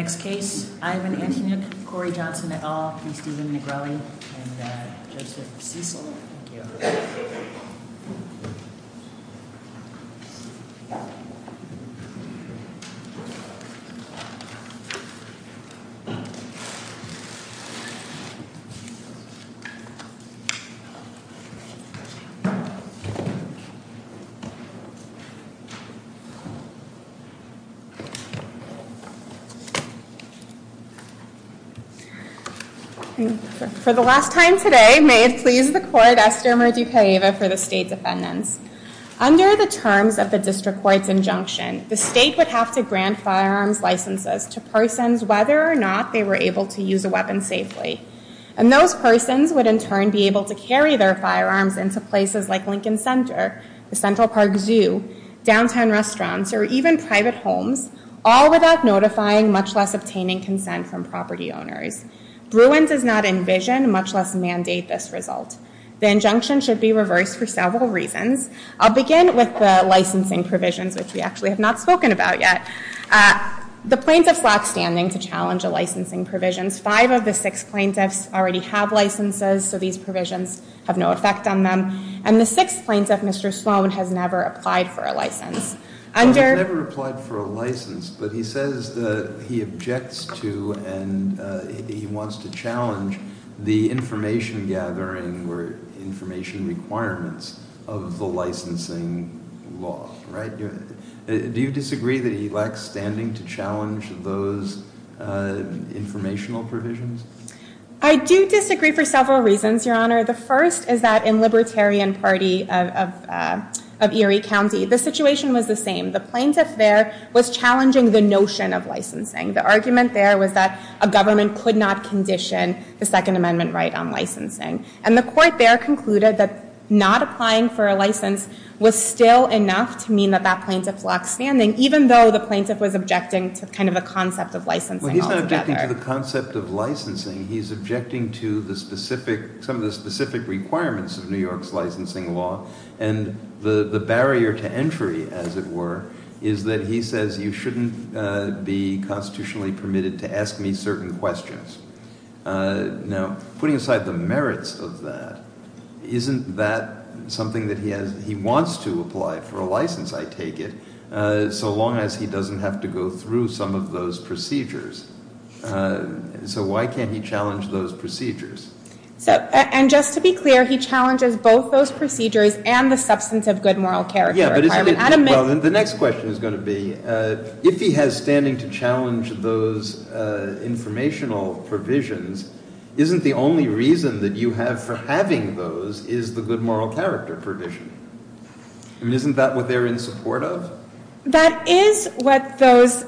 Next case, Ivan Antonyuk v. Corey Johnson et al. v. Stephen Negrelli v. Joseph Cecil For the last time today, may it please the court, Esther Merdukaeva for the State Defendants. Under the terms of the District Court's injunction, the State would have to grant firearms licenses to persons whether or not they were able to use a weapon safely. And those persons would in turn be able to carry their firearms into places like Lincoln Center, the Central Park Zoo, downtown restaurants, or even private homes, all without notifying, much less obtaining consent from property owners. Bruin does not envision, much less mandate, this result. The injunction should be reversed for several reasons. I'll begin with the licensing provisions, which we actually have not spoken about yet. The plaintiffs' lack standing to challenge the licensing provisions. Five of the six plaintiffs already have licenses, so these I've never applied for a license, but he says that he objects to and he wants to challenge the information gathering or information requirements of the licensing law, right? Do you disagree that he lacks standing to challenge those informational provisions? I do disagree for several reasons, Your Honor. The first is that in Libertarian Party of Erie County, the situation was the same. The plaintiff there was challenging the notion of licensing. The argument there was that a government could not condition the Second Amendment right on licensing. And the court there concluded that not applying for a license was still enough to mean that that plaintiff lacks standing, even though the plaintiff was objecting to kind of a concept of licensing altogether. Well, he's not objecting to the concept of some of the specific requirements of New York's licensing law, and the barrier to entry, as it were, is that he says you shouldn't be constitutionally permitted to ask me certain questions. Now, putting aside the merits of that, isn't that something that he wants to apply for a license, I take it, so long as he doesn't have to go through some of those procedures? So, and just to be clear, he challenges both those procedures and the substance of good moral character requirement. Yeah, but isn't it, well, then the next question is going to be, if he has standing to challenge those informational provisions, isn't the only reason that you have for having those is the good moral character provision? I mean, isn't that what they're in support of? That is what those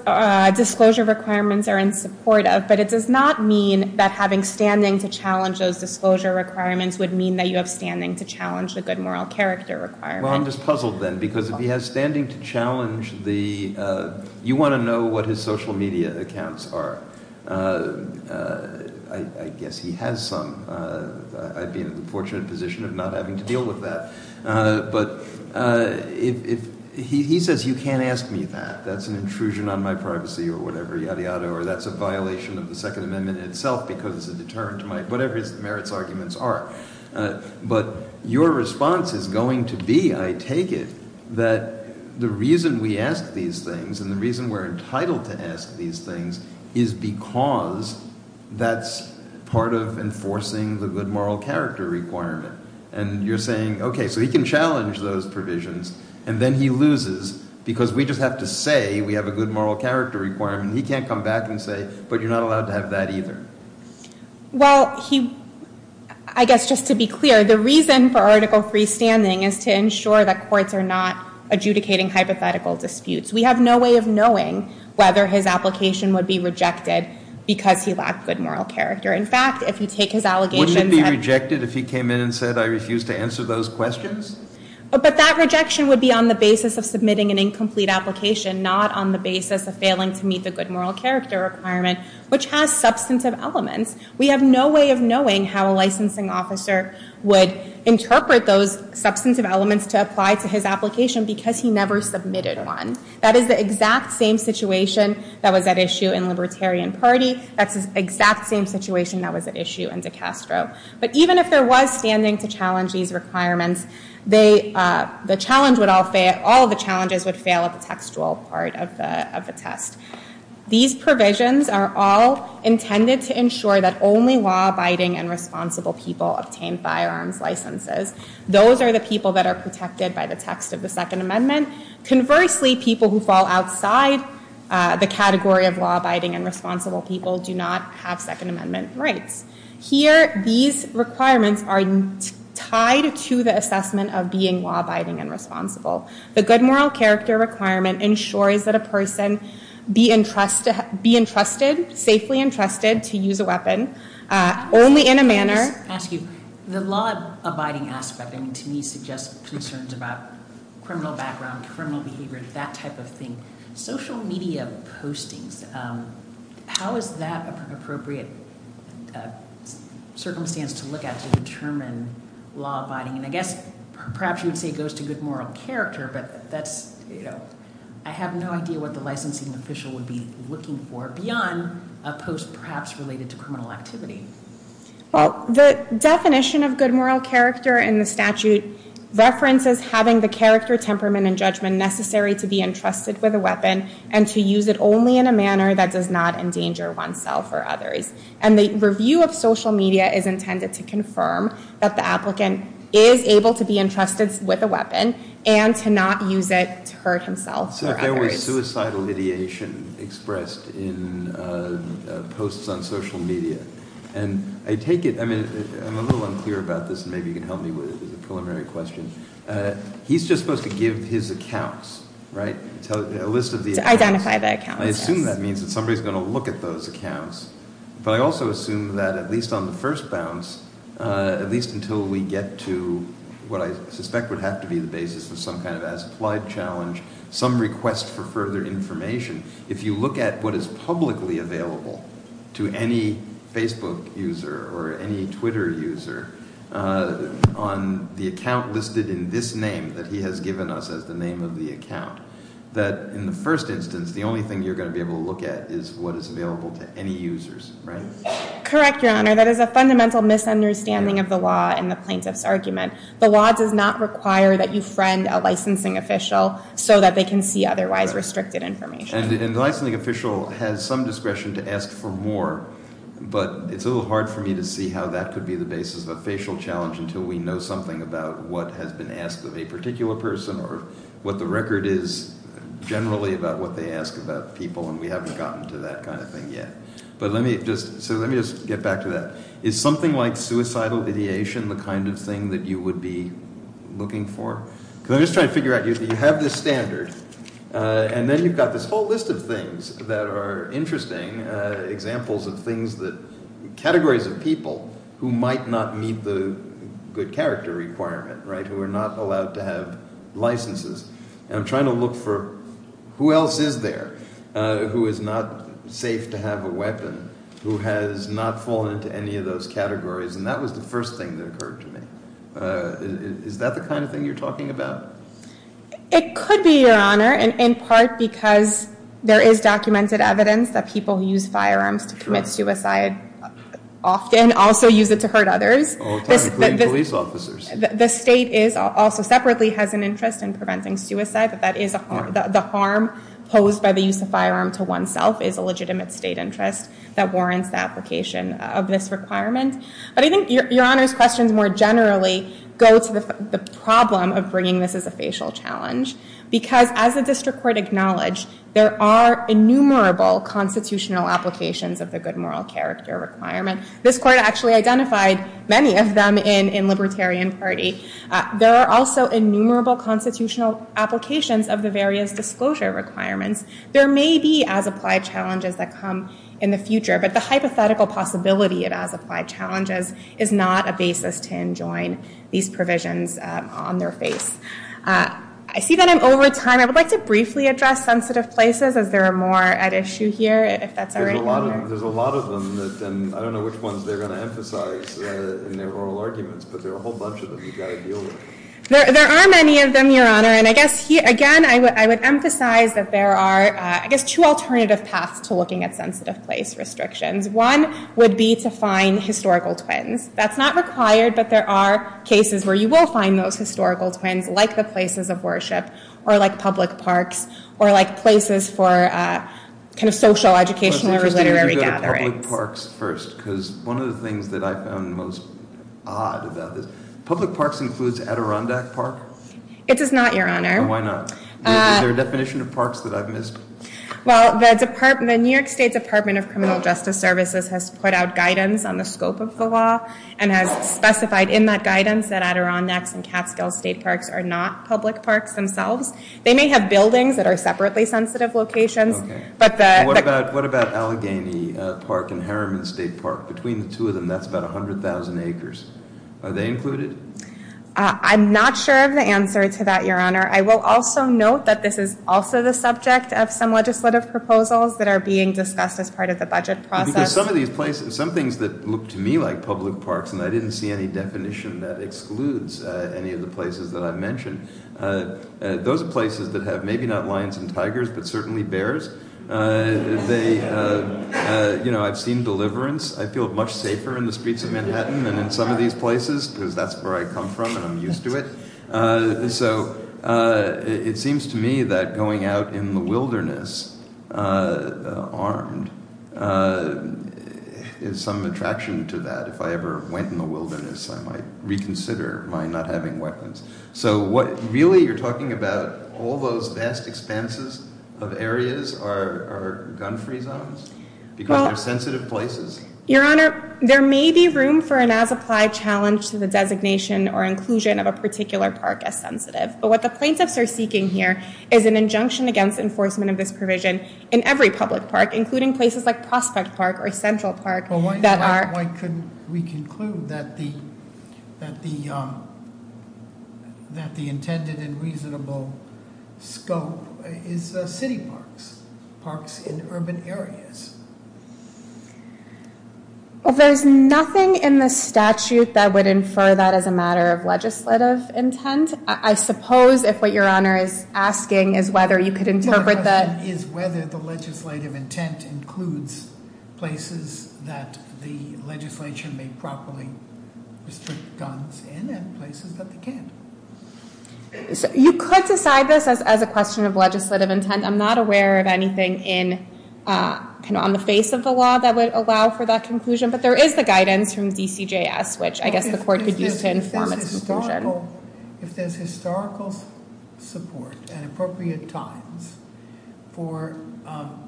disclosure requirements are in support of, but it does not mean that having standing to challenge those disclosure requirements would mean that you have standing to challenge the good moral character requirement. Well, I'm just puzzled then, because if he has standing to challenge the, you want to know what his social media accounts are. I guess he has some. I'd be in a fortunate position of not having to deal with that. But if, he says you can't ask me that, that's an intrusion on my privacy or whatever, yada, yada, or that's a violation of the Second Amendment itself because it's a deterrent to my, whatever his merits arguments are. But your response is going to be, I take it, that the reason we ask these things and the reason we're entitled to ask these things is because that's part of enforcing the good moral character requirement. And you're saying, okay, so he can challenge those provisions and then he loses because we just have to say we have a good moral character requirement. He can't come back and say, but you're not allowed to have that either. Well, he, I guess just to be clear, the reason for Article III standing is to ensure that courts are not adjudicating hypothetical disputes. We have no way of knowing whether his application would be rejected because he lacked good moral character. In fact, if you take his allegations... Wouldn't it be rejected if he came in and said I refuse to answer those questions? But that rejection would be on the basis of submitting an incomplete application, not on the basis of failing to meet the good moral character requirement, which has substantive elements. We have no way of knowing how a licensing officer would interpret those substantive elements to apply to his application because he never submitted one. That is the exact same situation that was at issue in Libertarian Party. That's the exact same situation that was at issue in DeCastro. But even if there was standing to challenge these requirements, the challenge would all fail. All of the challenges would fail at the textual part of the test. These provisions are all intended to ensure that only law-abiding and responsible people obtain firearms licenses. Those are the people that are protected by the text of the Second Amendment. Conversely, people who fall outside the category of law-abiding and responsible people do not have Second Amendment rights. Here, these requirements are tied to the assessment of being law-abiding and responsible. The good moral character requirement ensures that a person be entrusted, safely entrusted to use a weapon, only in a manner... I just want to ask you, the law-abiding aspect, I mean, to me, suggests concerns about criminal background, criminal behavior, that type of thing. Social media postings, how is that appropriate circumstance to look at to determine law-abiding? And I guess, perhaps you'd say it goes to good moral character, but that's, you know, I have no idea what the licensing official would be looking for beyond a post, perhaps, related to criminal activity. Well, the definition of good moral character in the statute references having the character, temperament, and judgment necessary to be entrusted with a weapon and to use it only in a manner that does not endanger oneself or others. And the review of social media is intended to confirm that the applicant is able to be entrusted with a weapon and to not use it to hurt himself or others. So if there were suicidal ideation expressed in posts on social media, and I take it, I mean, I'm a little unclear about this, and maybe you can help me with it, it's a preliminary question. He's just supposed to give his accounts, right? A list of the accounts. To identify the accounts, yes. I assume that means that somebody's going to look at those accounts, but I also assume that at least on the first bounce, at least until we get to what I suspect would have to be the basis of some kind of as-applied challenge, some request for further information, if you look at what is publicly available to any Facebook user or any Twitter user on the account listed in this name that he has given us as the name of the account, that in the first instance, the only thing you're going to be able to look at is what is available to any users, right? Correct, Your Honor. That is a fundamental misunderstanding of the law in the plaintiff's argument. The law does not require that you friend a licensing official so that they can see otherwise restricted information. And the licensing official has some discretion to ask for more, but it's a little hard for me to see how that could be the basis of a facial challenge until we know something about what has been asked of a particular person or what the record is generally about what they ask about people, and we haven't gotten to that kind of thing yet. But let me just, so let me just get back to that. Is something like suicidal ideation the kind of thing that you would be looking for? Because I'm just trying to figure out, you have this standard, and then you've got this whole list of things that are interesting, examples of things that, categories of people who might not meet the good character requirement, right, who are not allowed to have licenses, and I'm trying to look for who else is there who is not safe to have a weapon, who has not fallen into any of those categories, and that was the first thing that occurred to me. Is that the kind of thing you're talking about? It could be, Your Honor, in part because there is documented evidence that people who use firearms to commit suicide often also use it to hurt others. All the time, including police officers. The state is, also separately, has an interest in preventing suicide, that that is the harm posed by the use of firearm to oneself is a legitimate state interest that warrants the application of this requirement. But I think Your Honor's questions more generally go to the problem of bringing this as a facial challenge, because as the district court acknowledged, there are innumerable constitutional applications of the good moral character requirement. This court actually identified many of them in Libertarian Party. There are also innumerable constitutional applications of the various disclosure requirements. There may be as-applied challenges that come in the future, but the hypothetical possibility of as-applied challenges is not a basis to enjoin these provisions on their face. I see that I'm over time. I would like to briefly address sensitive places, as there are more at issue here, if that's all right, Your Honor. There's a lot of them, and I don't know which ones they're going to emphasize in their oral arguments, but there are a whole bunch of them you've got to deal with. There are many of them, Your Honor, and I guess, again, I would emphasize that there are, I guess, two alternative paths to looking at sensitive place restrictions. One would be to find historical twins. That's not required, but there are cases where you will find those historical twins, like the places of worship, or like public parks, or like places for social, educational, or literary gatherings. Public parks first, because one of the things that I found most odd about this, public parks includes Adirondack Park? It does not, Your Honor. Why not? Is there a definition of parks that I've missed? Well, the New York State Department of Criminal Justice Services has put out guidance on the scope of the law, and has specified in that guidance that Adirondacks and Catskill State Parks are not public parks themselves. They may have buildings that are separately sensitive locations, but the- And what about Allegheny Park and Harriman State Park? Between the two of them, that's about 100,000 acres. Are they included? I'm not sure of the answer to that, Your Honor. I will also note that this is also the subject of some legislative proposals that are being discussed as part of the budget process. Because some of these places, some things that look to me like public parks, and I didn't see any definition that excludes any of the places that I've mentioned, those are places that have maybe not lions and tigers, but certainly bears. They, you know, I've seen deliverance. I feel much safer in the streets of Manhattan than in some of these places, because that's where I come from and I'm used to it. So it seems to me that going out in the wilderness armed is some attraction to that. If I ever went in the wilderness, I might reconsider my not having weapons. So really you're talking about all those vast expanses of areas are gun-free zones? Because they're sensitive places? Your Honor, there may be room for an as-applied challenge to the designation or inclusion of a particular park as sensitive. But what the plaintiffs are seeking here is an injunction against enforcement of this provision in every public park, including places like Prospect Park or Central Park Why couldn't we conclude that the intended and reasonable scope is city parks, parks in urban areas? Well, there's nothing in the statute that would infer that as a matter of legislative intent. I suppose if what Your Honor is asking is whether you could interpret that- That the legislature may properly restrict guns in places that they can't. You could decide this as a question of legislative intent. I'm not aware of anything on the face of the law that would allow for that conclusion. But there is the guidance from DCJS, which I guess the court could use to inform its conclusion. If there's historical support at appropriate times for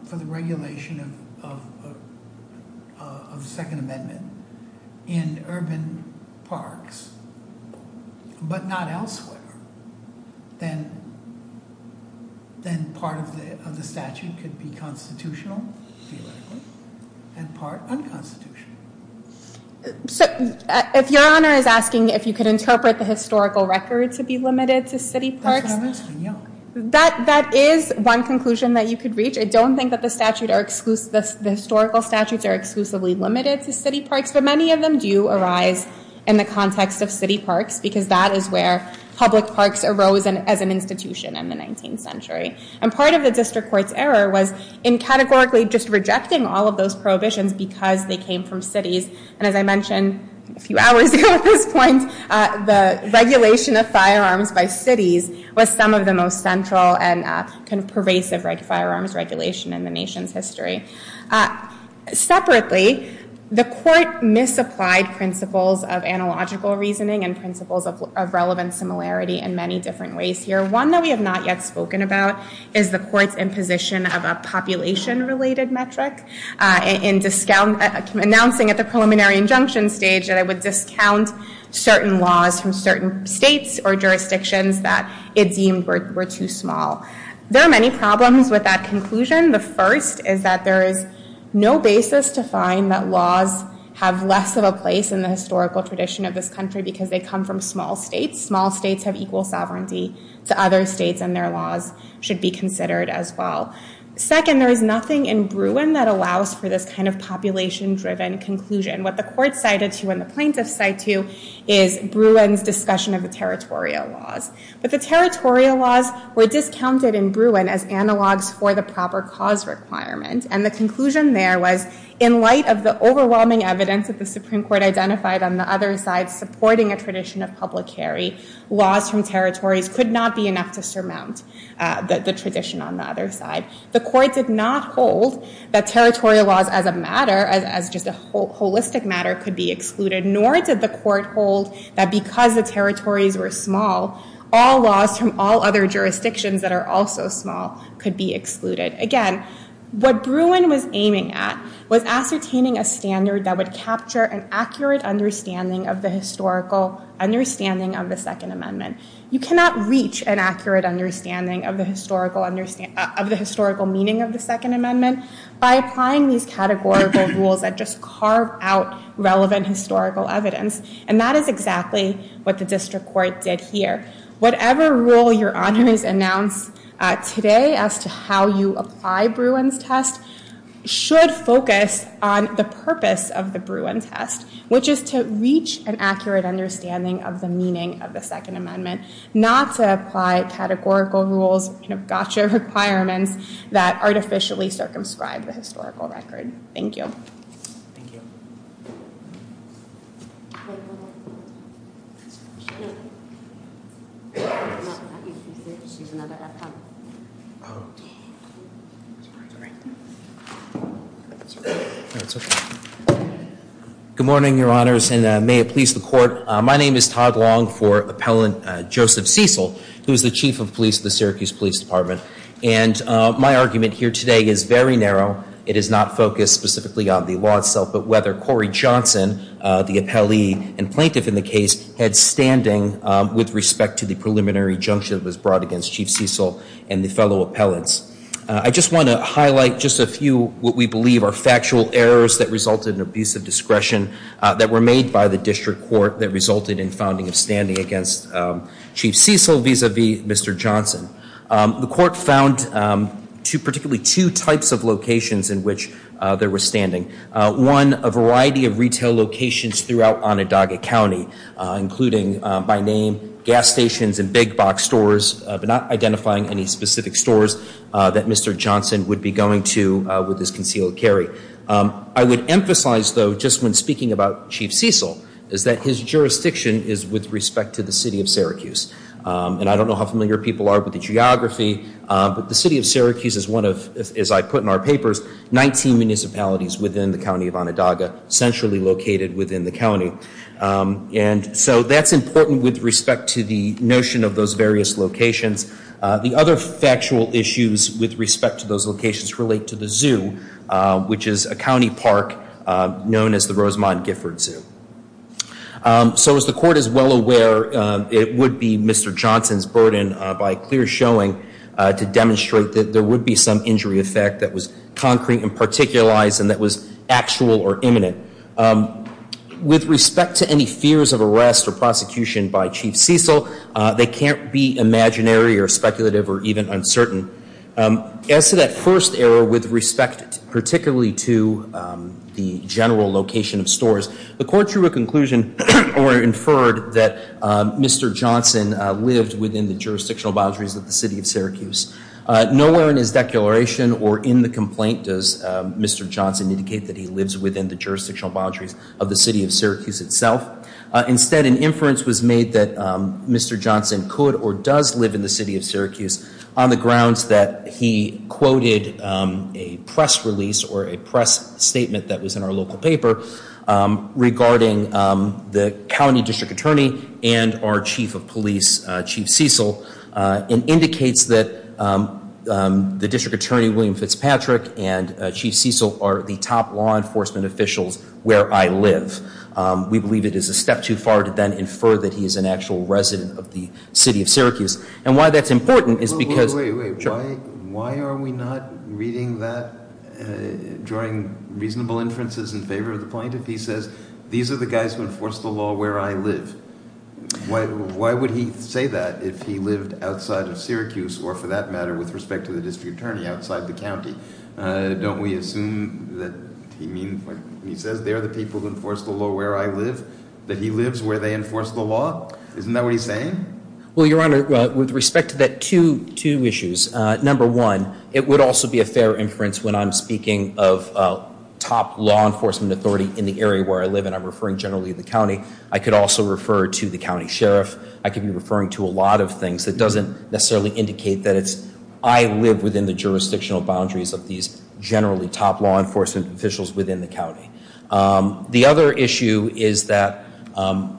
the regulation of the Second Amendment in urban parks, but not elsewhere, then part of the statute could be constitutional, theoretically, and part unconstitutional. So if Your Honor is asking if you could interpret the historical record to be limited to city parks- That's what I'm asking, yeah. That is one conclusion that you could reach. I don't think that the historical statutes are exclusively limited to city parks, but many of them do arise in the context of city parks, because that is where public parks arose as an institution in the 19th century. And part of the district court's error was in categorically just rejecting all of those prohibitions because they came from cities. And as I mentioned a few hours ago at this point, the regulation of firearms by cities was some of the most central and pervasive firearms regulation in the nation's history. Separately, the court misapplied principles of analogical reasoning and principles of relevant similarity in many different ways here. One that we have not yet spoken about is the court's imposition of a population-related metric. Announcing at the preliminary injunction stage that it would discount certain laws from certain states or jurisdictions that it deemed were too small. There are many problems with that conclusion. The first is that there is no basis to find that laws have less of a place in the historical tradition of this country because they come from small states. Small states have equal sovereignty to other states, and their laws should be considered as well. Second, there is nothing in Bruin that allows for this kind of population-driven conclusion. What the court cited to and the plaintiffs cite to is Bruin's discussion of the territorial laws. But the territorial laws were discounted in Bruin as analogs for the proper cause requirement. And the conclusion there was in light of the overwhelming evidence that the Supreme Court identified on the other side supporting a tradition of public carry, laws from territories could not be enough to surmount the tradition on the other side. The court did not hold that territorial laws as a matter, as just a holistic matter, could be excluded, nor did the court hold that because the territories were small, all laws from all other jurisdictions that are also small could be excluded. Again, what Bruin was aiming at was ascertaining a standard that would capture an accurate understanding of the historical understanding of the Second Amendment. You cannot reach an accurate understanding of the historical meaning of the Second Amendment by applying these categorical rules that just carve out relevant historical evidence. And that is exactly what the district court did here. Whatever rule your honors announce today as to how you apply Bruin's test should focus on the purpose of the Bruin test, which is to reach an accurate understanding of the meaning of the Second Amendment, not to apply categorical rules, gotcha requirements that artificially circumscribe the historical record. Thank you. Thank you. Good morning, your honors, and may it please the court. My name is Todd Long for Appellant Joseph Cecil, who is the Chief of Police of the Syracuse Police Department. And my argument here today is very narrow. It is not focused specifically on the law itself, but whether Corey Johnson, the appellee and plaintiff in the case, had standing with respect to the preliminary injunction that was brought against Chief Cecil and the fellow appellants. I just want to highlight just a few what we believe are factual errors that resulted in abusive discretion that were made by the district court that resulted in founding of standing against Chief Cecil vis-a-vis Mr. Johnson. The court found particularly two types of locations in which there was standing. One, a variety of retail locations throughout Onondaga County, including by name, gas stations and big box stores, but not identifying any specific stores that Mr. Johnson would be going to with his concealed carry. I would emphasize, though, just when speaking about Chief Cecil, is that his jurisdiction is with respect to the city of Syracuse. And I don't know how familiar people are with the geography, but the city of Syracuse is one of, as I put in our papers, 19 municipalities within the county of Onondaga, centrally located within the county. And so that's important with respect to the notion of those various locations. The other factual issues with respect to those locations relate to the zoo, which is a county park known as the Rosemont Gifford Zoo. So as the court is well aware, it would be Mr. Johnson's burden, by clear showing, to demonstrate that there would be some injury effect that was concrete and particularized and that was actual or imminent. With respect to any fears of arrest or prosecution by Chief Cecil, they can't be imaginary or speculative or even uncertain. As to that first error with respect particularly to the general location of stores, the court drew a conclusion or inferred that Mr. Johnson lived within the jurisdictional boundaries of the city of Syracuse. Nowhere in his declaration or in the complaint does Mr. Johnson indicate that he lives within the jurisdictional boundaries of the city of Syracuse itself. Instead, an inference was made that Mr. Johnson could or does live in the city of Syracuse on the grounds that he quoted a press release or a press statement that was in our local paper regarding the county district attorney and our chief of police, Chief Cecil, and indicates that the district attorney, William Fitzpatrick, and Chief Cecil are the top law enforcement officials where I live. We believe it is a step too far to then infer that he is an actual resident of the city of Syracuse. And why that's important is because Wait, wait, wait. Why are we not reading that, drawing reasonable inferences in favor of the plaintiff? He says these are the guys who enforce the law where I live. Why would he say that if he lived outside of Syracuse or, for that matter, with respect to the district attorney outside the county? Don't we assume that he says they're the people who enforce the law where I live, that he lives where they enforce the law? Isn't that what he's saying? Well, Your Honor, with respect to that, two issues. Number one, it would also be a fair inference when I'm speaking of top law enforcement authority in the area where I live and I'm referring generally to the county. I could also refer to the county sheriff. I could be referring to a lot of things that doesn't necessarily indicate that it's I live within the jurisdictional boundaries of these generally top law enforcement officials within the county. The other issue is that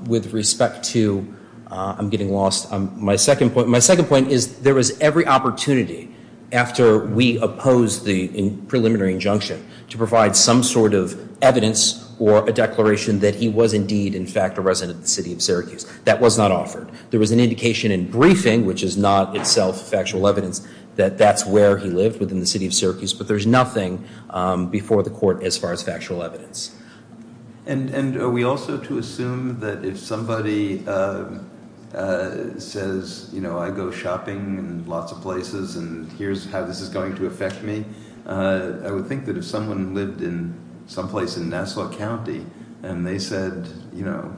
with respect to, I'm getting lost. My second point is there was every opportunity after we opposed the preliminary injunction to provide some sort of evidence or a declaration that he was indeed, in fact, a resident of the city of Syracuse. That was not offered. There was an indication in briefing, which is not itself factual evidence, that that's where he lived within the city of Syracuse. But there's nothing before the court as far as factual evidence. And are we also to assume that if somebody says, you know, I go shopping in lots of places and here's how this is going to affect me, I would think that if someone lived in some place in Nassau County and they said, you know,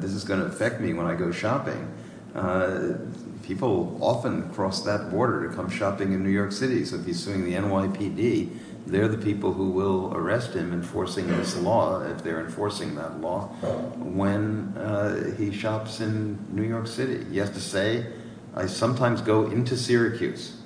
this is going to affect me when I go shopping, people often cross that border to come shopping in New York City. So if he's suing the NYPD, they're the people who will arrest him enforcing this law, if they're enforcing that law, when he shops in New York City. He has to say, I sometimes go into Syracuse.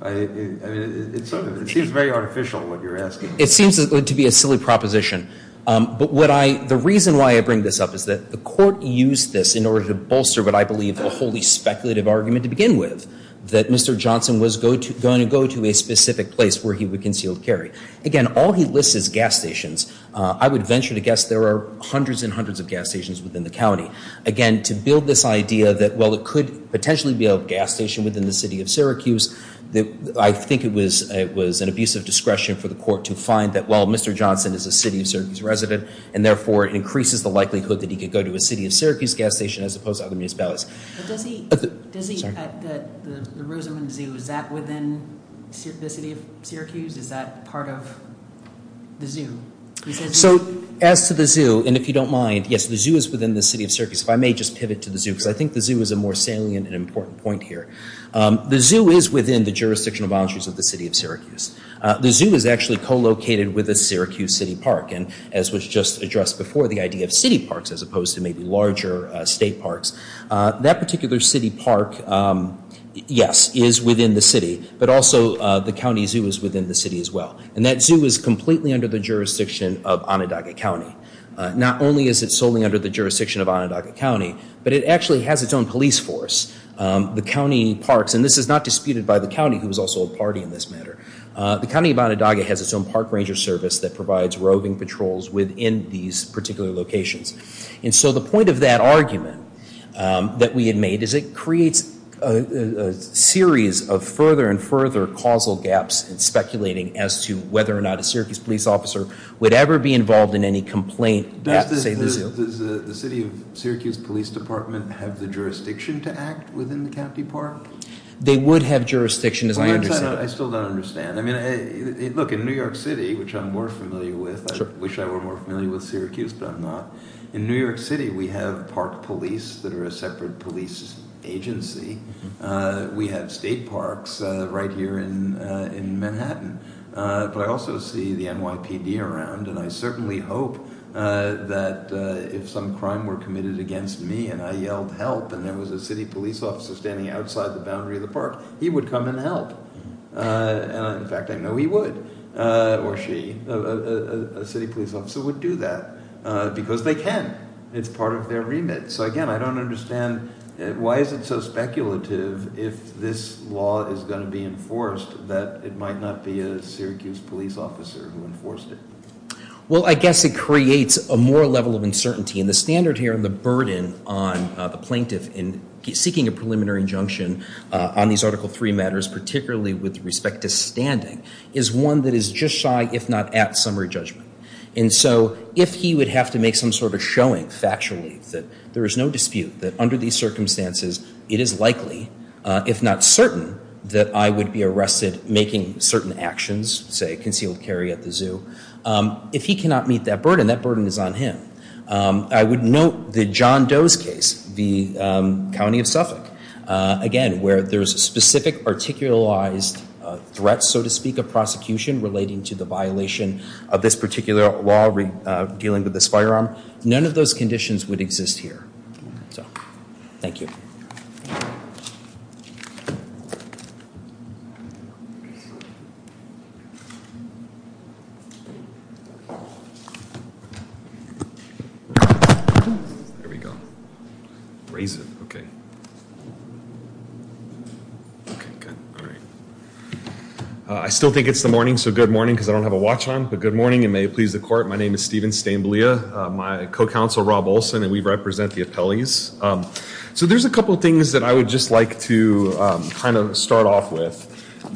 I mean, it seems very artificial, what you're asking. It seems to be a silly proposition. But the reason why I bring this up is that the court used this in order to bolster what I believe a wholly speculative argument to begin with, that Mr. Johnson was going to go to a specific place where he would conceal carry. Again, all he lists is gas stations. I would venture to guess there are hundreds and hundreds of gas stations within the county. Again, to build this idea that, well, it could potentially be a gas station within the city of Syracuse, I think it was an abuse of discretion for the court to find that, well, Mr. Johnson is a city of Syracuse resident, and therefore it increases the likelihood that he could go to a city of Syracuse gas station as opposed to other municipalities. Does he at the Rosamond Zoo, is that within the city of Syracuse? Is that part of the zoo? So as to the zoo, and if you don't mind, yes, the zoo is within the city of Syracuse. If I may just pivot to the zoo, because I think the zoo is a more salient and important point here. The zoo is within the jurisdictional boundaries of the city of Syracuse. The zoo is actually co-located with the Syracuse City Park, and as was just addressed before, the idea of city parks as opposed to maybe larger state parks, that particular city park, yes, is within the city, but also the county zoo is within the city as well. And that zoo is completely under the jurisdiction of Onondaga County. Not only is it solely under the jurisdiction of Onondaga County, but it actually has its own police force. The county parks, and this is not disputed by the county, who is also a party in this matter. The county of Onondaga has its own park ranger service that provides roving patrols within these particular locations. And so the point of that argument that we had made is it creates a series of further and further causal gaps in speculating as to whether or not a Syracuse police officer would ever be involved in any complaint at, say, the zoo. Does the city of Syracuse Police Department have the jurisdiction to act within the county park? They would have jurisdiction, as I understand it. I still don't understand. I mean, look, in New York City, which I'm more familiar with, I wish I were more familiar with Syracuse, but I'm not. In New York City, we have park police that are a separate police agency. We have state parks right here in Manhattan. But I also see the NYPD around, and I certainly hope that if some crime were committed against me and I yelled help and there was a city police officer standing outside the boundary of the park, he would come and help. In fact, I know he would, or she. A city police officer would do that because they can. It's part of their remit. So, again, I don't understand. Why is it so speculative if this law is going to be enforced that it might not be a Syracuse police officer who enforced it? Well, I guess it creates a moral level of uncertainty. And the standard here and the burden on the plaintiff in seeking a preliminary injunction on these Article III matters, particularly with respect to standing, is one that is just shy, if not at, summary judgment. And so if he would have to make some sort of showing factually that there is no dispute, that under these circumstances it is likely, if not certain, that I would be arrested making certain actions, say concealed carry at the zoo, if he cannot meet that burden, that burden is on him. I would note the John Doe's case, the county of Suffolk, again, where there's a specific articulized threat, so to speak, of prosecution relating to the violation of this particular law, dealing with this firearm, none of those conditions would exist here. So, thank you. There we go. Raise it, okay. I still think it's the morning, so good morning, because I don't have a watch on, but good morning and may it please the court. My name is Stephen Stainblea, my co-counsel Rob Olson, and we represent the appellees. So there's a couple of things that I would just like to kind of start off with.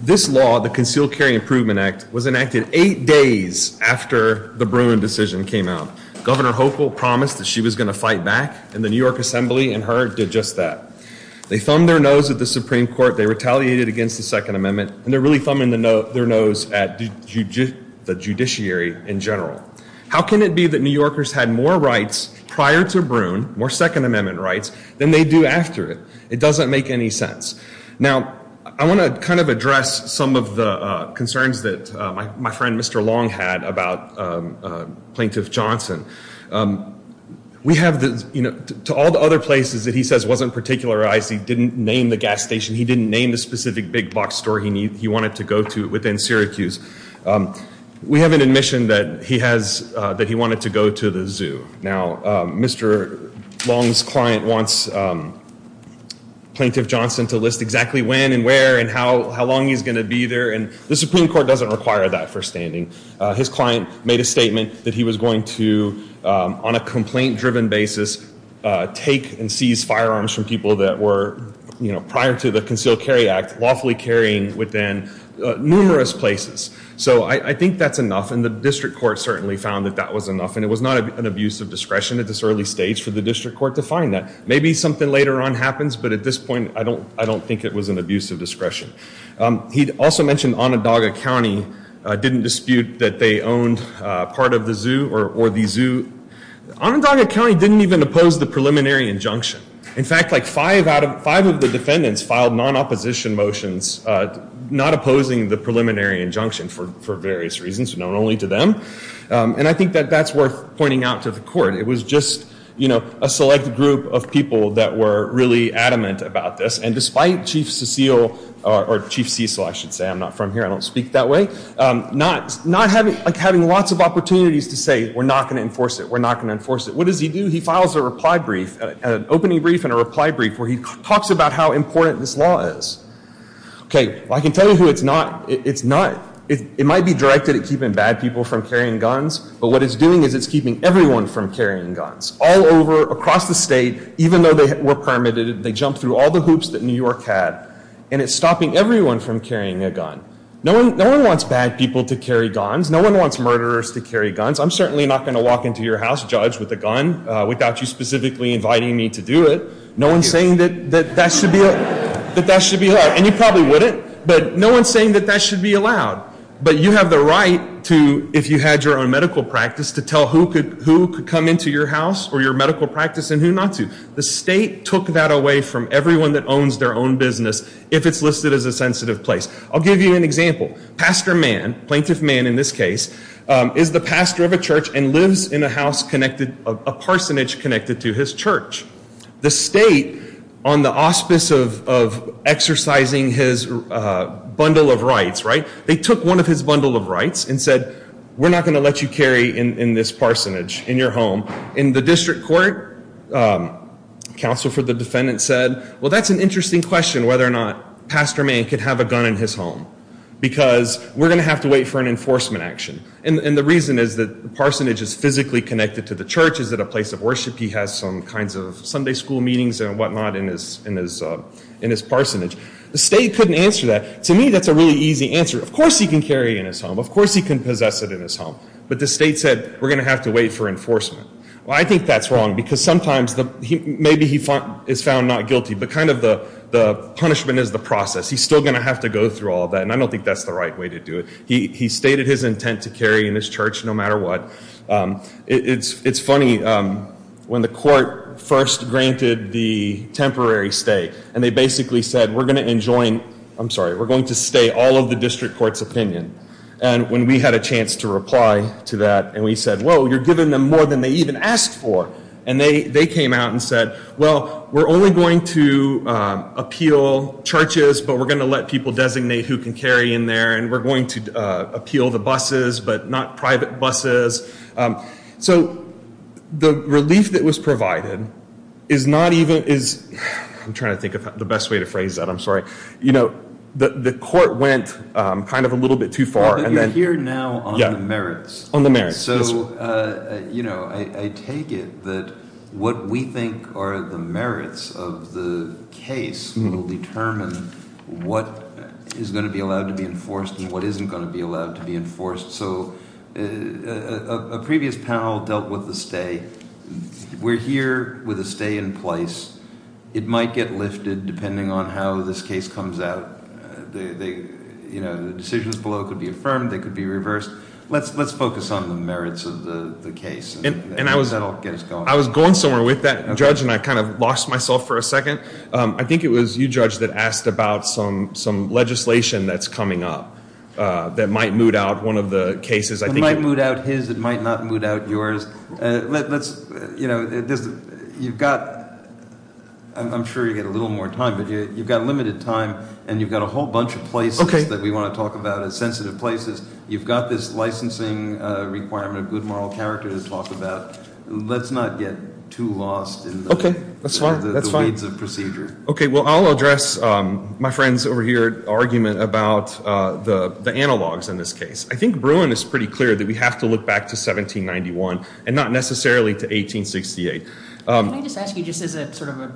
This law, the Concealed Carry Improvement Act, was enacted eight days after the Bruin decision came out. Governor Hopel promised that she was going to fight back, and the New York Assembly and her did just that. They thumbed their nose at the Supreme Court, they retaliated against the Second Amendment, and they're really thumbing their nose at the judiciary in general. How can it be that New Yorkers had more rights prior to Bruin, more Second Amendment rights, than they do after it? It doesn't make any sense. Now, I want to kind of address some of the concerns that my friend Mr. Long had about Plaintiff Johnson. We have the, you know, to all the other places that he says wasn't particularized, he didn't name the gas station, he didn't name the specific big box store he wanted to go to within Syracuse, we have an admission that he wanted to go to the zoo. Now, Mr. Long's client wants Plaintiff Johnson to list exactly when and where and how long he's going to be there, and the Supreme Court doesn't require that for standing. His client made a statement that he was going to, on a complaint-driven basis, take and seize firearms from people that were, you know, prior to the Concealed Carry Act, lawfully carrying within numerous places. So I think that's enough, and the district court certainly found that that was enough, and it was not an abuse of discretion at this early stage for the district court to find that. Maybe something later on happens, but at this point I don't think it was an abuse of discretion. He also mentioned Onondaga County didn't dispute that they owned part of the zoo or the zoo. Onondaga County didn't even oppose the preliminary injunction. In fact, like five of the defendants filed non-opposition motions not opposing the preliminary injunction for various reasons, known only to them, and I think that that's worth pointing out to the court. It was just, you know, a select group of people that were really adamant about this, and despite Chief Cecil, or Chief Cecil, I should say, I'm not from here, I don't speak that way, not having lots of opportunities to say, we're not going to enforce it, we're not going to enforce it. What does he do? He files a reply brief, an opening brief and a reply brief where he talks about how important this law is. Okay, well, I can tell you who it's not. It's not, it might be directed at keeping bad people from carrying guns, but what it's doing is it's keeping everyone from carrying guns, all over, across the state, even though they were permitted, they jumped through all the hoops that New York had, and it's stopping everyone from carrying a gun. No one wants bad people to carry guns. No one wants murderers to carry guns. I'm certainly not going to walk into your house, Judge, with a gun without you specifically inviting me to do it. No one's saying that that should be allowed, and you probably wouldn't, but no one's saying that that should be allowed. But you have the right to, if you had your own medical practice, to tell who could come into your house or your medical practice and who not to. The state took that away from everyone that owns their own business if it's listed as a sensitive place. I'll give you an example. Pastor Mann, plaintiff Mann in this case, is the pastor of a church and lives in a house connected, a parsonage connected to his church. The state, on the auspice of exercising his bundle of rights, right, they took one of his bundle of rights and said, we're not going to let you carry in this parsonage in your home. In the district court, counsel for the defendant said, well, that's an interesting question, whether or not Pastor Mann could have a gun in his home, because we're going to have to wait for an enforcement action. And the reason is that the parsonage is physically connected to the church. It's at a place of worship. He has some kinds of Sunday school meetings and whatnot in his parsonage. The state couldn't answer that. To me, that's a really easy answer. Of course he can carry it in his home. Of course he can possess it in his home. But the state said, we're going to have to wait for enforcement. Well, I think that's wrong, because sometimes maybe he is found not guilty, but kind of the punishment is the process. He's still going to have to go through all that. And I don't think that's the right way to do it. He stated his intent to carry in his church no matter what. It's funny. When the court first granted the temporary stay, and they basically said, we're going to stay all of the district court's opinion. And when we had a chance to reply to that, and we said, well, you're giving them more than they even asked for. And they came out and said, well, we're only going to appeal churches, but we're going to let people designate who can carry in there. And we're going to appeal the buses, but not private buses. So the relief that was provided is not even as – I'm trying to think of the best way to phrase that. I'm sorry. You know, the court went kind of a little bit too far. You're here now on the merits. On the merits. So, you know, I take it that what we think are the merits of the case will determine what is going to be allowed to be enforced and what isn't going to be allowed to be enforced. So a previous panel dealt with the stay. We're here with a stay in place. It might get lifted depending on how this case comes out. You know, the decisions below could be affirmed. They could be reversed. Let's focus on the merits of the case. And that'll get us going. I was going somewhere with that, Judge, and I kind of lost myself for a second. I think it was you, Judge, that asked about some legislation that's coming up that might moot out one of the cases. It might moot out his. It might not moot out yours. You know, you've got – I'm sure you get a little more time, but you've got limited time, and you've got a whole bunch of places that we want to talk about as sensitive places. You've got this licensing requirement of good moral character to talk about. Let's not get too lost in the weeds of procedure. Okay, well, I'll address my friend's over here argument about the analogs in this case. I think Bruin is pretty clear that we have to look back to 1791 and not necessarily to 1868. Can I just ask you just as sort of a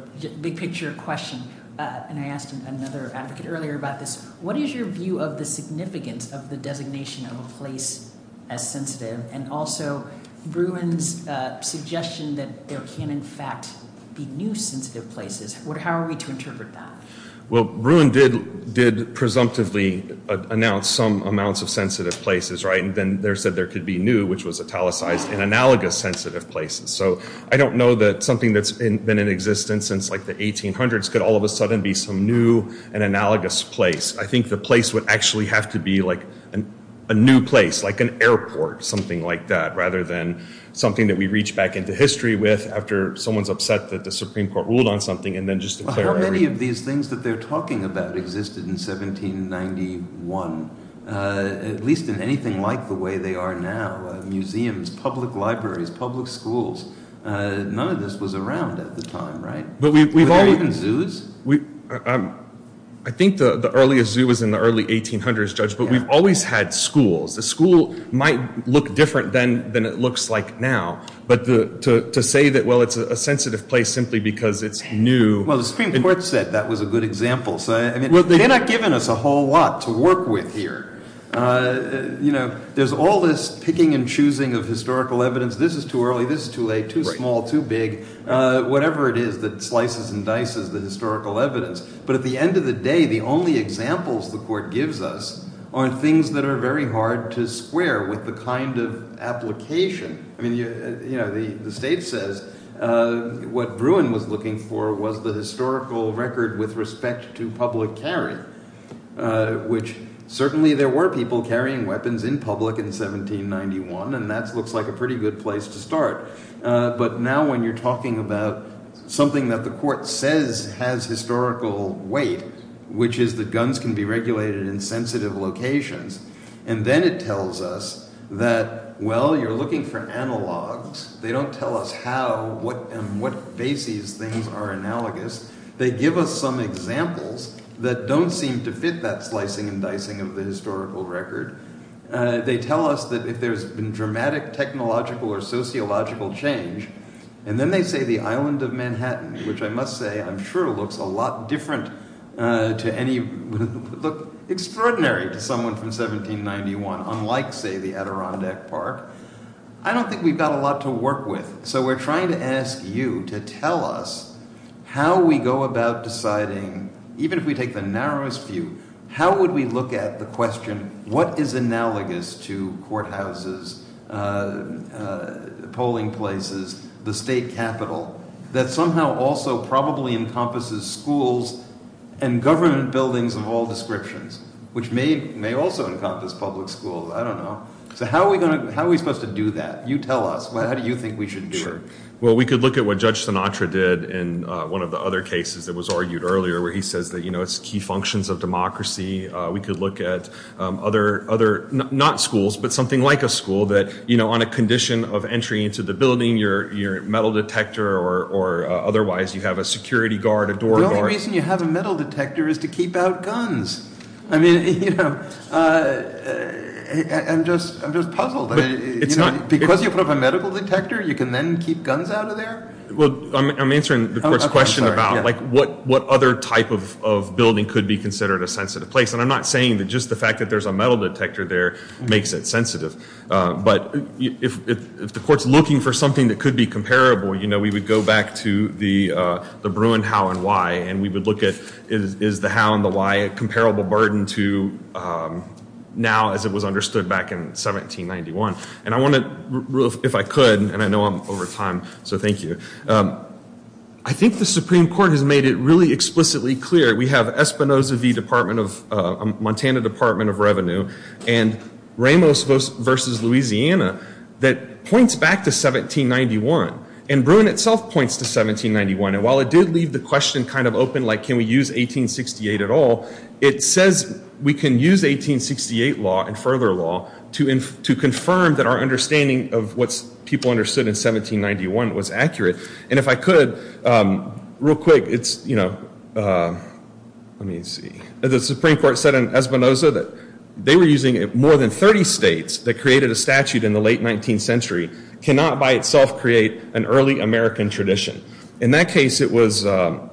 big picture question, and I asked another advocate earlier about this, what is your view of the significance of the designation of a place as sensitive and also Bruin's suggestion that there can, in fact, be new sensitive places? How are we to interpret that? Well, Bruin did presumptively announce some amounts of sensitive places, right? And then there said there could be new, which was italicized in analogous sensitive places. So I don't know that something that's been in existence since, like, the 1800s could all of a sudden be some new and analogous place. I think the place would actually have to be, like, a new place, like an airport, something like that, rather than something that we reach back into history with after someone's upset that the Supreme Court ruled on something and then just declare it. How many of these things that they're talking about existed in 1791, at least in anything like the way they are now, museums, public libraries, public schools? None of this was around at the time, right? Were there even zoos? I think the earliest zoo was in the early 1800s, Judge, but we've always had schools. The school might look different than it looks like now. But to say that, well, it's a sensitive place simply because it's new. Well, the Supreme Court said that was a good example. They've not given us a whole lot to work with here. You know, there's all this picking and choosing of historical evidence. This is too early, this is too late, too small, too big. Whatever it is that slices and dices the historical evidence. But at the end of the day, the only examples the court gives us are things that are very hard to square with the kind of application. I mean, you know, the state says what Bruin was looking for was the historical record with respect to public carry, which certainly there were people carrying weapons in public in 1791, and that looks like a pretty good place to start. But now when you're talking about something that the court says has historical weight, which is that guns can be regulated in sensitive locations, and then it tells us that, well, you're looking for analogs. They don't tell us how, what, and what bases things are analogous. They give us some examples that don't seem to fit that slicing and dicing of the historical record. They tell us that if there's been dramatic technological or sociological change, and then they say the island of Manhattan, which I must say I'm sure looks a lot different to any, look extraordinary to someone from 1791, unlike, say, the Adirondack Park. I don't think we've got a lot to work with, so we're trying to ask you to tell us how we go about deciding, even if we take the narrowest view, how would we look at the question, what is analogous to courthouses, polling places, the state capitol that somehow also probably encompasses schools and government buildings of all descriptions, which may also encompass public schools. I don't know. So how are we supposed to do that? You tell us. How do you think we should do it? Well, we could look at what Judge Sinatra did in one of the other cases that was argued earlier, where he says that, you know, it's key functions of democracy. We could look at other, not schools, but something like a school that, you know, on a condition of entry into the building, your metal detector or otherwise, you have a security guard, a door guard. The only reason you have a metal detector is to keep out guns. I mean, you know, I'm just puzzled. Because you put up a medical detector, you can then keep guns out of there? Well, I'm answering the court's question about, like, what other type of building could be considered a sensitive place. And I'm not saying that just the fact that there's a metal detector there makes it sensitive. But if the court's looking for something that could be comparable, you know, we would go back to the Bruin how and why, and we would look at is the how and the why a comparable burden to now as it was understood back in 1791. And I want to, if I could, and I know I'm over time, so thank you. I think the Supreme Court has made it really explicitly clear. We have Espinoza v. Department of, Montana Department of Revenue, and Ramos v. Louisiana that points back to 1791. And Bruin itself points to 1791. And while it did leave the question kind of open, like, can we use 1868 at all, it says we can use 1868 law and further law to confirm that our understanding of what people understood in 1791 was accurate. And if I could, real quick, it's, you know, let me see. The Supreme Court said in Espinoza that they were using more than 30 states that created a statute in the late 19th century cannot by itself create an early American tradition. In that case, it was a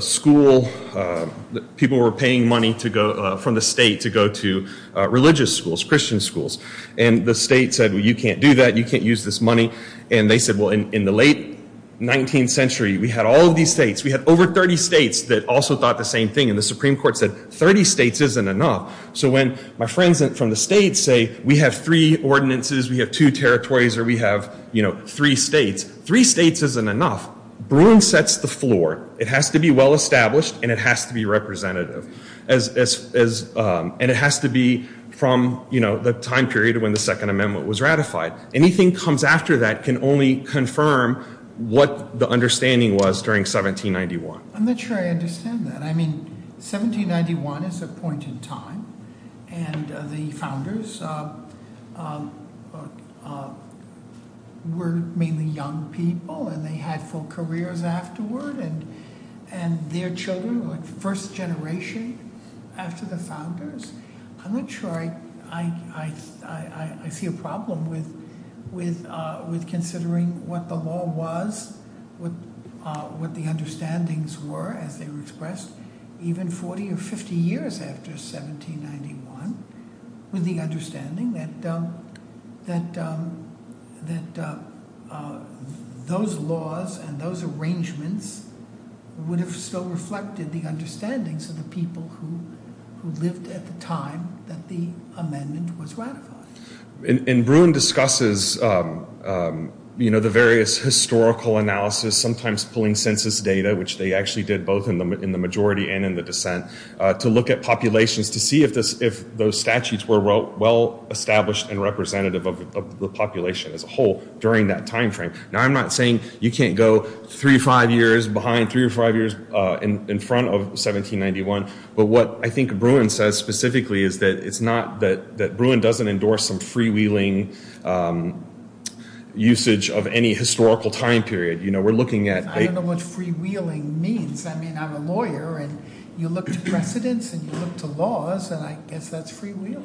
school that people were paying money from the state to go to religious schools, Christian schools. And the state said, well, you can't do that. You can't use this money. And they said, well, in the late 19th century, we had all of these states. We had over 30 states that also thought the same thing. And the Supreme Court said 30 states isn't enough. So when my friends from the states say we have three ordinances, we have two territories, or we have, you know, three states, three states isn't enough. Bruin sets the floor. It has to be well established, and it has to be representative. And it has to be from, you know, the time period when the Second Amendment was ratified. Anything comes after that can only confirm what the understanding was during 1791. I'm not sure I understand that. I mean, 1791 is a point in time, and the founders were mainly young people, and they had full careers afterward. And their children were first generation after the founders. I'm not sure I see a problem with considering what the law was, what the understandings were as they were expressed, even 40 or 50 years after 1791 with the understanding that those laws and those arrangements would have still reflected the understandings of the people who lived at the time that the amendment was ratified. And Bruin discusses, you know, the various historical analysis, sometimes pulling census data, which they actually did both in the majority and in the dissent, to look at populations to see if those statutes were well established and representative of the population as a whole during that time frame. Now, I'm not saying you can't go three or five years behind, three or five years in front of 1791. But what I think Bruin says specifically is that it's not that Bruin doesn't endorse some freewheeling usage of any historical time period. You know, we're looking at a- I don't know what freewheeling means. I mean, I'm a lawyer, and you look to precedence and you look to laws, and I guess that's freewheeling.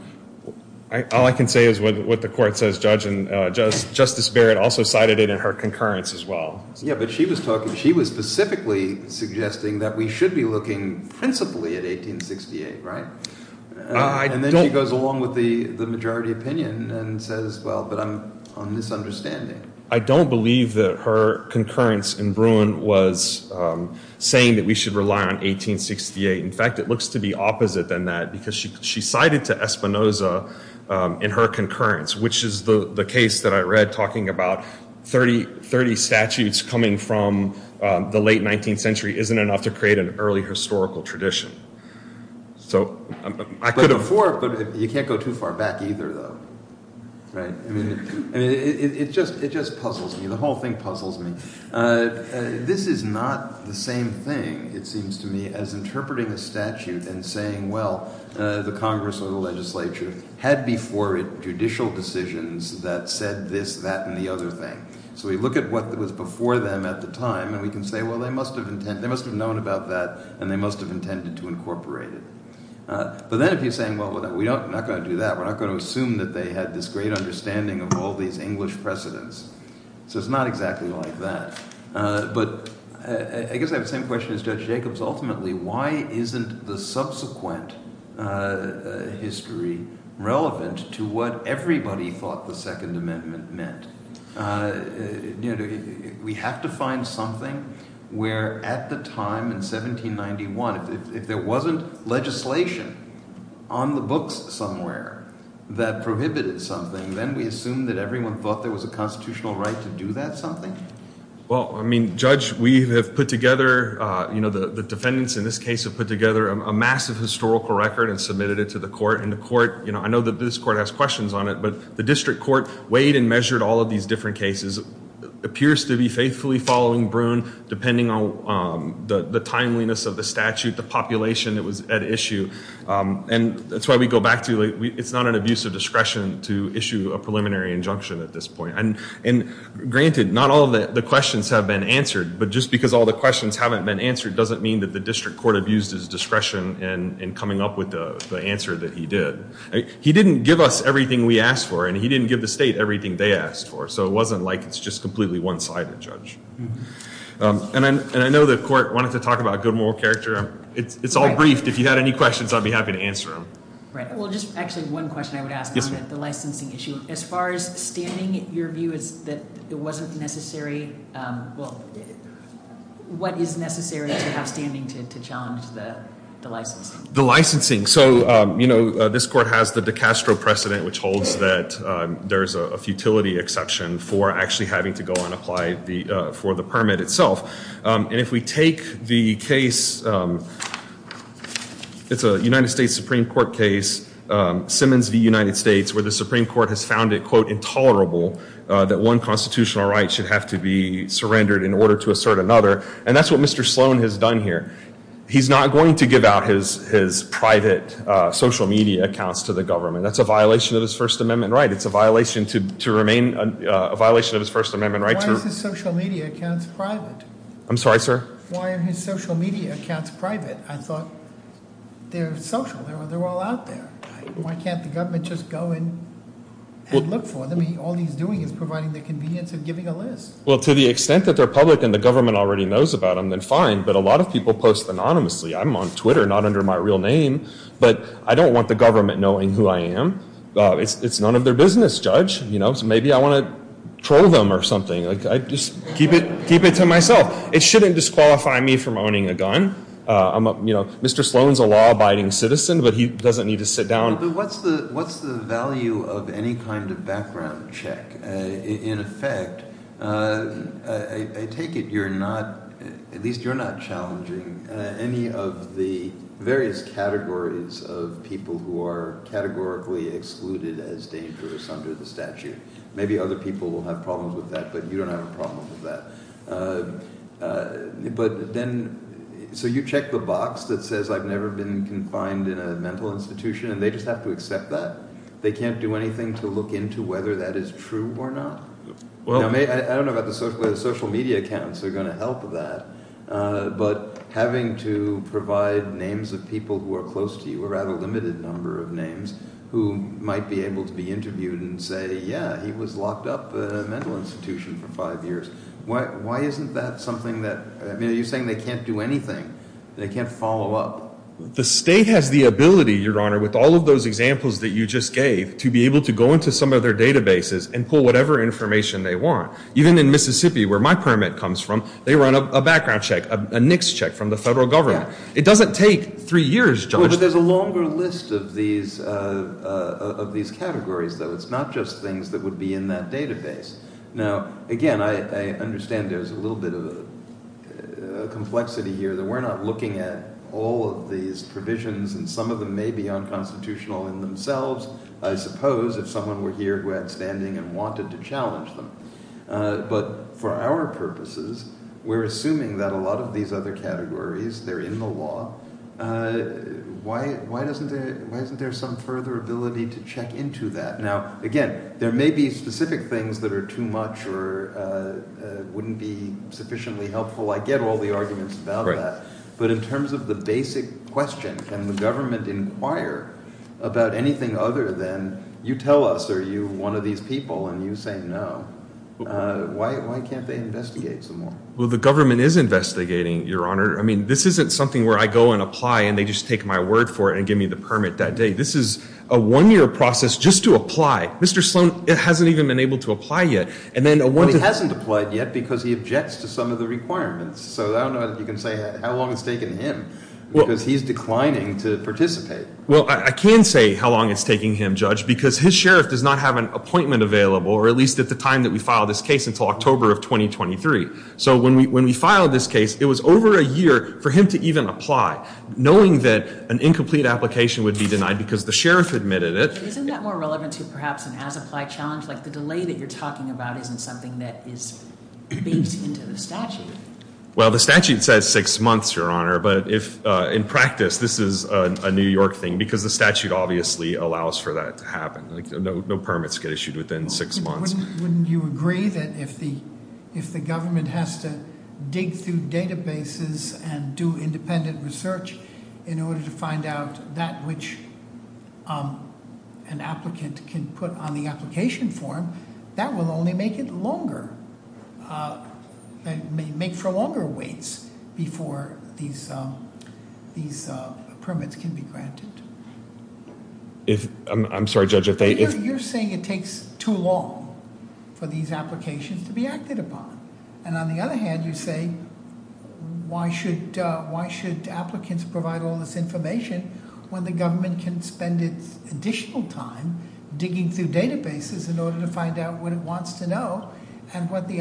All I can say is what the court says, Judge, and Justice Barrett also cited it in her concurrence as well. Yeah, but she was specifically suggesting that we should be looking principally at 1868, right? And then she goes along with the majority opinion and says, well, but I'm on misunderstanding. I don't believe that her concurrence in Bruin was saying that we should rely on 1868. In fact, it looks to be opposite than that because she cited to Espinoza in her concurrence, which is the case that I read, talking about 30 statutes coming from the late 19th century isn't enough to create an early historical tradition. So I could have- But before, you can't go too far back either, though, right? I mean, it just puzzles me. The whole thing puzzles me. This is not the same thing, it seems to me, as interpreting a statute and saying, well, the Congress or the legislature had before it judicial decisions that said this, that, and the other thing. So we look at what was before them at the time, and we can say, well, they must have known about that, and they must have intended to incorporate it. But then if you're saying, well, we're not going to do that, we're not going to assume that they had this great understanding of all these English precedents. So it's not exactly like that. But I guess I have the same question as Judge Jacobs. Ultimately, why isn't the subsequent history relevant to what everybody thought the Second Amendment meant? We have to find something where at the time in 1791, if there wasn't legislation on the books somewhere that prohibited something, then we assume that everyone thought there was a constitutional right to do that something? Well, I mean, Judge, we have put together- the defendants in this case have put together a massive historical record and submitted it to the court. And the court, you know, I know that this court has questions on it, but the district court weighed and measured all of these different cases. It appears to be faithfully following Bruhn, depending on the timeliness of the statute, the population that was at issue. And that's why we go back to it's not an abuse of discretion to issue a preliminary injunction at this point. And granted, not all of the questions have been answered, but just because all the questions haven't been answered doesn't mean that the district court abused his discretion in coming up with the answer that he did. He didn't give us everything we asked for, and he didn't give the state everything they asked for. So it wasn't like it's just completely one-sided, Judge. And I know the court wanted to talk about good moral character. It's all briefed. If you had any questions, I'd be happy to answer them. Well, just actually one question I would ask on the licensing issue. As far as standing, your view is that it wasn't necessary, well, what is necessary to have standing to challenge the licensing? The licensing. So, you know, this court has the DeCastro precedent, which holds that there's a futility exception for actually having to go and apply for the permit itself. And if we take the case, it's a United States Supreme Court case, Simmons v. United States, where the Supreme Court has found it, quote, intolerable that one constitutional right should have to be surrendered in order to assert another. And that's what Mr. Sloan has done here. He's not going to give out his private social media accounts to the government. That's a violation of his First Amendment right. It's a violation to remain a violation of his First Amendment right. Why are his social media accounts private? I'm sorry, sir? Why are his social media accounts private? I thought they're social. They're all out there. Why can't the government just go and look for them? All he's doing is providing the convenience of giving a list. Well, to the extent that they're public and the government already knows about them, then fine. But a lot of people post anonymously. I'm on Twitter, not under my real name. But I don't want the government knowing who I am. It's none of their business, Judge. Maybe I want to troll them or something. I just keep it to myself. It shouldn't disqualify me from owning a gun. Mr. Sloan is a law-abiding citizen, but he doesn't need to sit down. But what's the value of any kind of background check? In effect, I take it you're not, at least you're not challenging any of the various categories of people who are categorically excluded as dangerous under the statute. Maybe other people will have problems with that, but you don't have a problem with that. So you check the box that says I've never been confined in a mental institution, and they just have to accept that? They can't do anything to look into whether that is true or not? I don't know about the social media accounts that are going to help that. But having to provide names of people who are close to you or have a limited number of names who might be able to be interviewed and say, yeah, he was locked up in a mental institution for five years. Why isn't that something that – I mean, are you saying they can't do anything? They can't follow up? The state has the ability, Your Honor, with all of those examples that you just gave, to be able to go into some of their databases and pull whatever information they want. Even in Mississippi, where my permit comes from, they run a background check, a NICS check from the federal government. It doesn't take three years, Judge. But there's a longer list of these categories, though. It's not just things that would be in that database. Now, again, I understand there's a little bit of a complexity here that we're not looking at all of these provisions, and some of them may be unconstitutional in themselves, I suppose, if someone were here who had standing and wanted to challenge them. But for our purposes, we're assuming that a lot of these other categories, they're in the law. Why isn't there some further ability to check into that? Now, again, there may be specific things that are too much or wouldn't be sufficiently helpful. I get all the arguments about that. But in terms of the basic question, can the government inquire about anything other than you tell us, are you one of these people? And you say no. Why can't they investigate some more? Well, the government is investigating, Your Honor. I mean, this isn't something where I go and apply and they just take my word for it and give me the permit that day. This is a one-year process just to apply. Mr. Sloan hasn't even been able to apply yet. But he hasn't applied yet because he objects to some of the requirements. So I don't know if you can say how long it's taken him because he's declining to participate. Well, I can say how long it's taking him, Judge, because his sheriff does not have an appointment available, or at least at the time that we filed this case, until October of 2023. So when we filed this case, it was over a year for him to even apply, knowing that an incomplete application would be denied because the sheriff admitted it. Isn't that more relevant to perhaps an as-applied challenge? Like the delay that you're talking about isn't something that is baked into the statute. Well, the statute says six months, Your Honor. But in practice, this is a New York thing because the statute obviously allows for that to happen. No permits get issued within six months. Wouldn't you agree that if the government has to dig through databases and do independent research in order to find out that which an applicant can put on the application form, that will only make it longer, make for longer waits before these permits can be granted? I'm sorry, Judge. You're saying it takes too long for these applications to be acted upon. And on the other hand, you say, why should applicants provide all this information when the government can spend its additional time digging through databases in order to find out what it wants to know and what the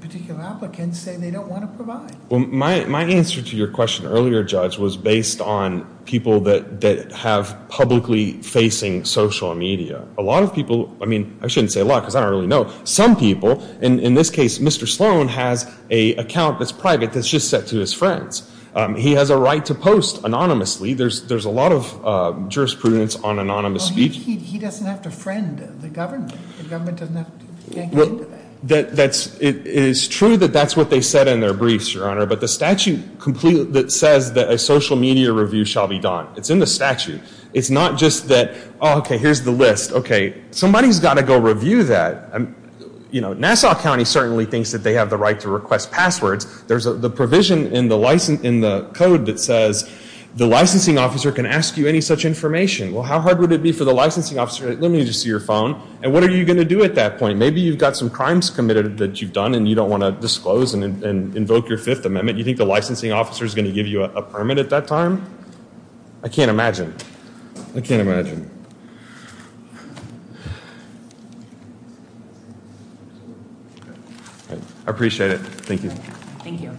particular applicants say they don't want to provide? Well, my answer to your question earlier, Judge, was based on people that have publicly facing social media. A lot of people, I mean, I shouldn't say a lot because I don't really know. Some people, in this case, Mr. Sloan has an account that's private that's just set to his friends. He has a right to post anonymously. There's a lot of jurisprudence on anonymous speech. He doesn't have to friend the government. The government doesn't have to get into that. It is true that that's what they said in their briefs, Your Honor. But the statute completely says that a social media review shall be done. It's in the statute. It's not just that, oh, OK, here's the list. OK, somebody's got to go review that. Nassau County certainly thinks that they have the right to request passwords. There's the provision in the code that says the licensing officer can ask you any such information. Well, how hard would it be for the licensing officer? Let me just see your phone. And what are you going to do at that point? Maybe you've got some crimes committed that you've done and you don't want to disclose and invoke your Fifth Amendment. You think the licensing officer is going to give you a permit at that time? I can't imagine. I can't imagine. I appreciate it. Thank you. Thank you.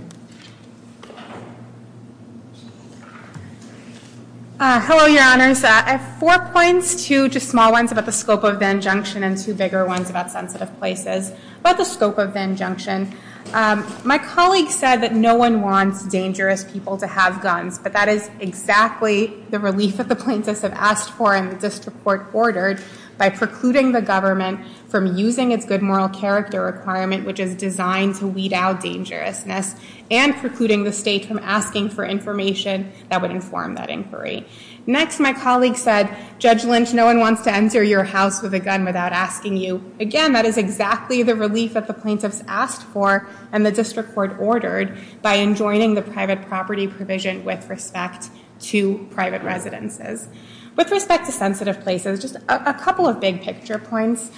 Hello, Your Honors. I have four points, two just small ones about the scope of the injunction and two bigger ones about sensitive places. About the scope of the injunction, my colleague said that no one wants dangerous people to have guns. But that is exactly the relief that the plaintiffs have asked for and the district court ordered by precluding the government from using its good moral character requirement, which is designed to weed out dangerousness, and precluding the state from asking for information that would inform that inquiry. Next, my colleague said, Judge Lynch, no one wants to enter your house with a gun without asking you. Again, that is exactly the relief that the plaintiffs asked for and the district court ordered by enjoining the private property provision with respect to private residences. With respect to sensitive places, just a couple of big picture points.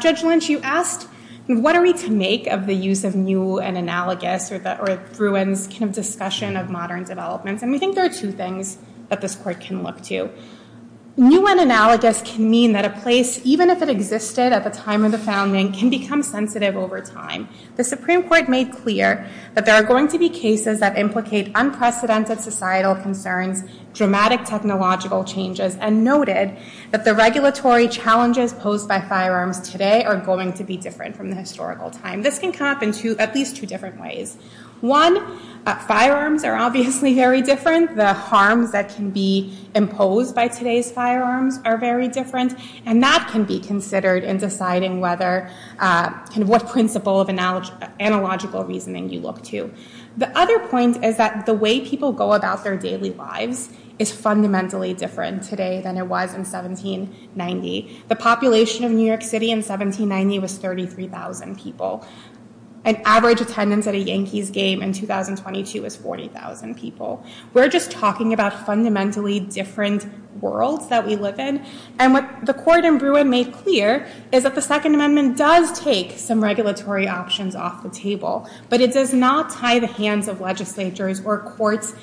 Judge Lynch, you asked, what are we to make of the use of new and analogous or Bruin's discussion of modern developments? And we think there are two things that this court can look to. New and analogous can mean that a place, even if it existed at the time of the founding, can become sensitive over time. The Supreme Court made clear that there are going to be cases that implicate unprecedented societal concerns, dramatic technological changes, and noted that the regulatory challenges posed by firearms today are going to be different from the historical time. This can come up in at least two different ways. One, firearms are obviously very different. The harms that can be imposed by today's firearms are very different. And that can be considered in deciding what principle of analogical reasoning you look to. The other point is that the way people go about their daily lives is fundamentally different today than it was in 1790. The population of New York City in 1790 was 33,000 people. An average attendance at a Yankees game in 2022 was 40,000 people. We're just talking about fundamentally different worlds that we live in. And what the court in Bruin made clear is that the Second Amendment does take some regulatory options off the table. But it does not tie the hands of legislatures or courts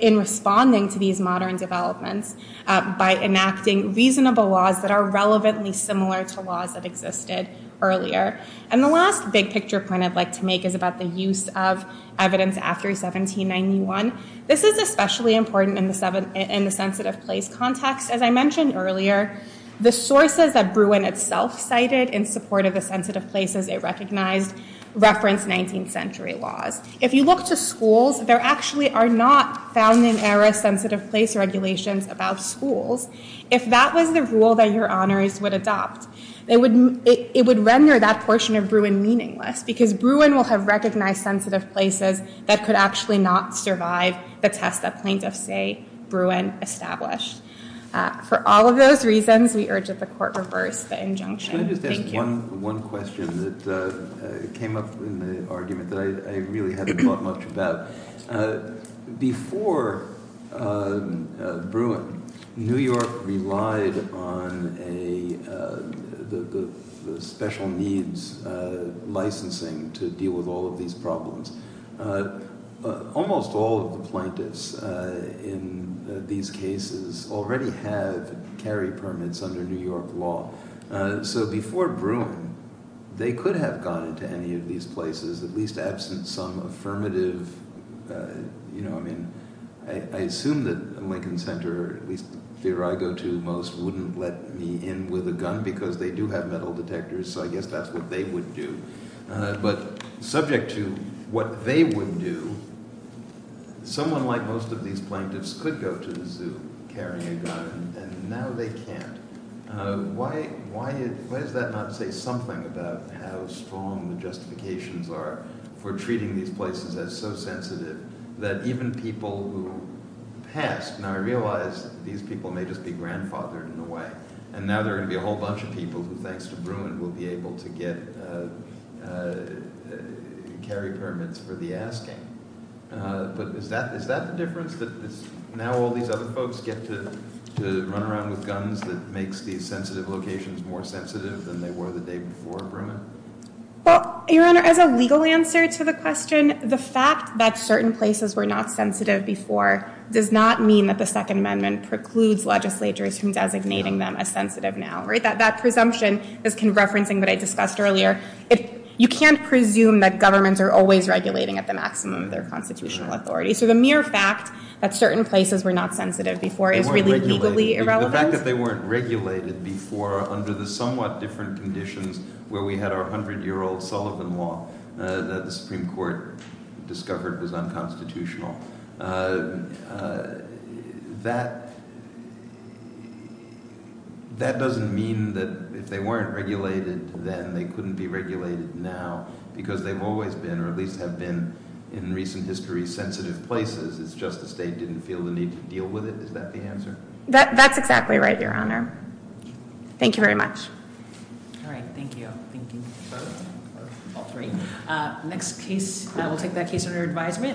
in responding to these modern developments by enacting reasonable laws that are relevantly similar to laws that existed earlier. And the last big picture point I'd like to make is about the use of evidence after 1791. This is especially important in the sensitive place context. As I mentioned earlier, the sources that Bruin itself cited in support of the sensitive places it recognized reference 19th century laws. If you look to schools, there actually are not found-in-error sensitive place regulations about schools. If that was the rule that your honors would adopt, it would render that portion of Bruin meaningless because Bruin will have recognized sensitive places that could actually not survive the test that plaintiffs say Bruin established. For all of those reasons, we urge that the court reverse the injunction. Thank you. Can I just ask one question that came up in the argument that I really haven't thought much about? Before Bruin, New York relied on the special needs licensing to deal with all of these problems. Almost all of the plaintiffs in these cases already have carry permits under New York law. So before Bruin, they could have gone into any of these places, at least absent some affirmative – I assume that Lincoln Center, at least the theater I go to most, wouldn't let me in with a gun because they do have metal detectors, so I guess that's what they would do. But subject to what they would do, someone like most of these plaintiffs could go to the zoo carrying a gun, and now they can't. Why does that not say something about how strong the justifications are for treating these places as so sensitive that even people who passed, now I realize these people may just be grandfathered in a way, and now there are going to be a whole bunch of people who, thanks to Bruin, will be able to get carry permits for the asking. But is that the difference, that now all these other folks get to run around with guns that makes these sensitive locations more sensitive than they were the day before Bruin? Well, Your Honor, as a legal answer to the question, the fact that certain places were not sensitive before does not mean that the Second Amendment precludes legislatures from designating them as sensitive now. That presumption is referencing what I discussed earlier. You can't presume that governments are always regulating at the maximum of their constitutional authority, so the mere fact that certain places were not sensitive before is really legally irrelevant. The fact that they weren't regulated before under the somewhat different conditions where we had our 100-year-old Sullivan Law that the Supreme Court discovered was unconstitutional, that doesn't mean that if they weren't regulated then they couldn't be regulated now because they've always been, or at least have been in recent history, sensitive places. It's just the state didn't feel the need to deal with it. Is that the answer? That's exactly right, Your Honor. Thank you very much. All right. Thank you. Thank you for all three. Next case, we'll take that case under advisement.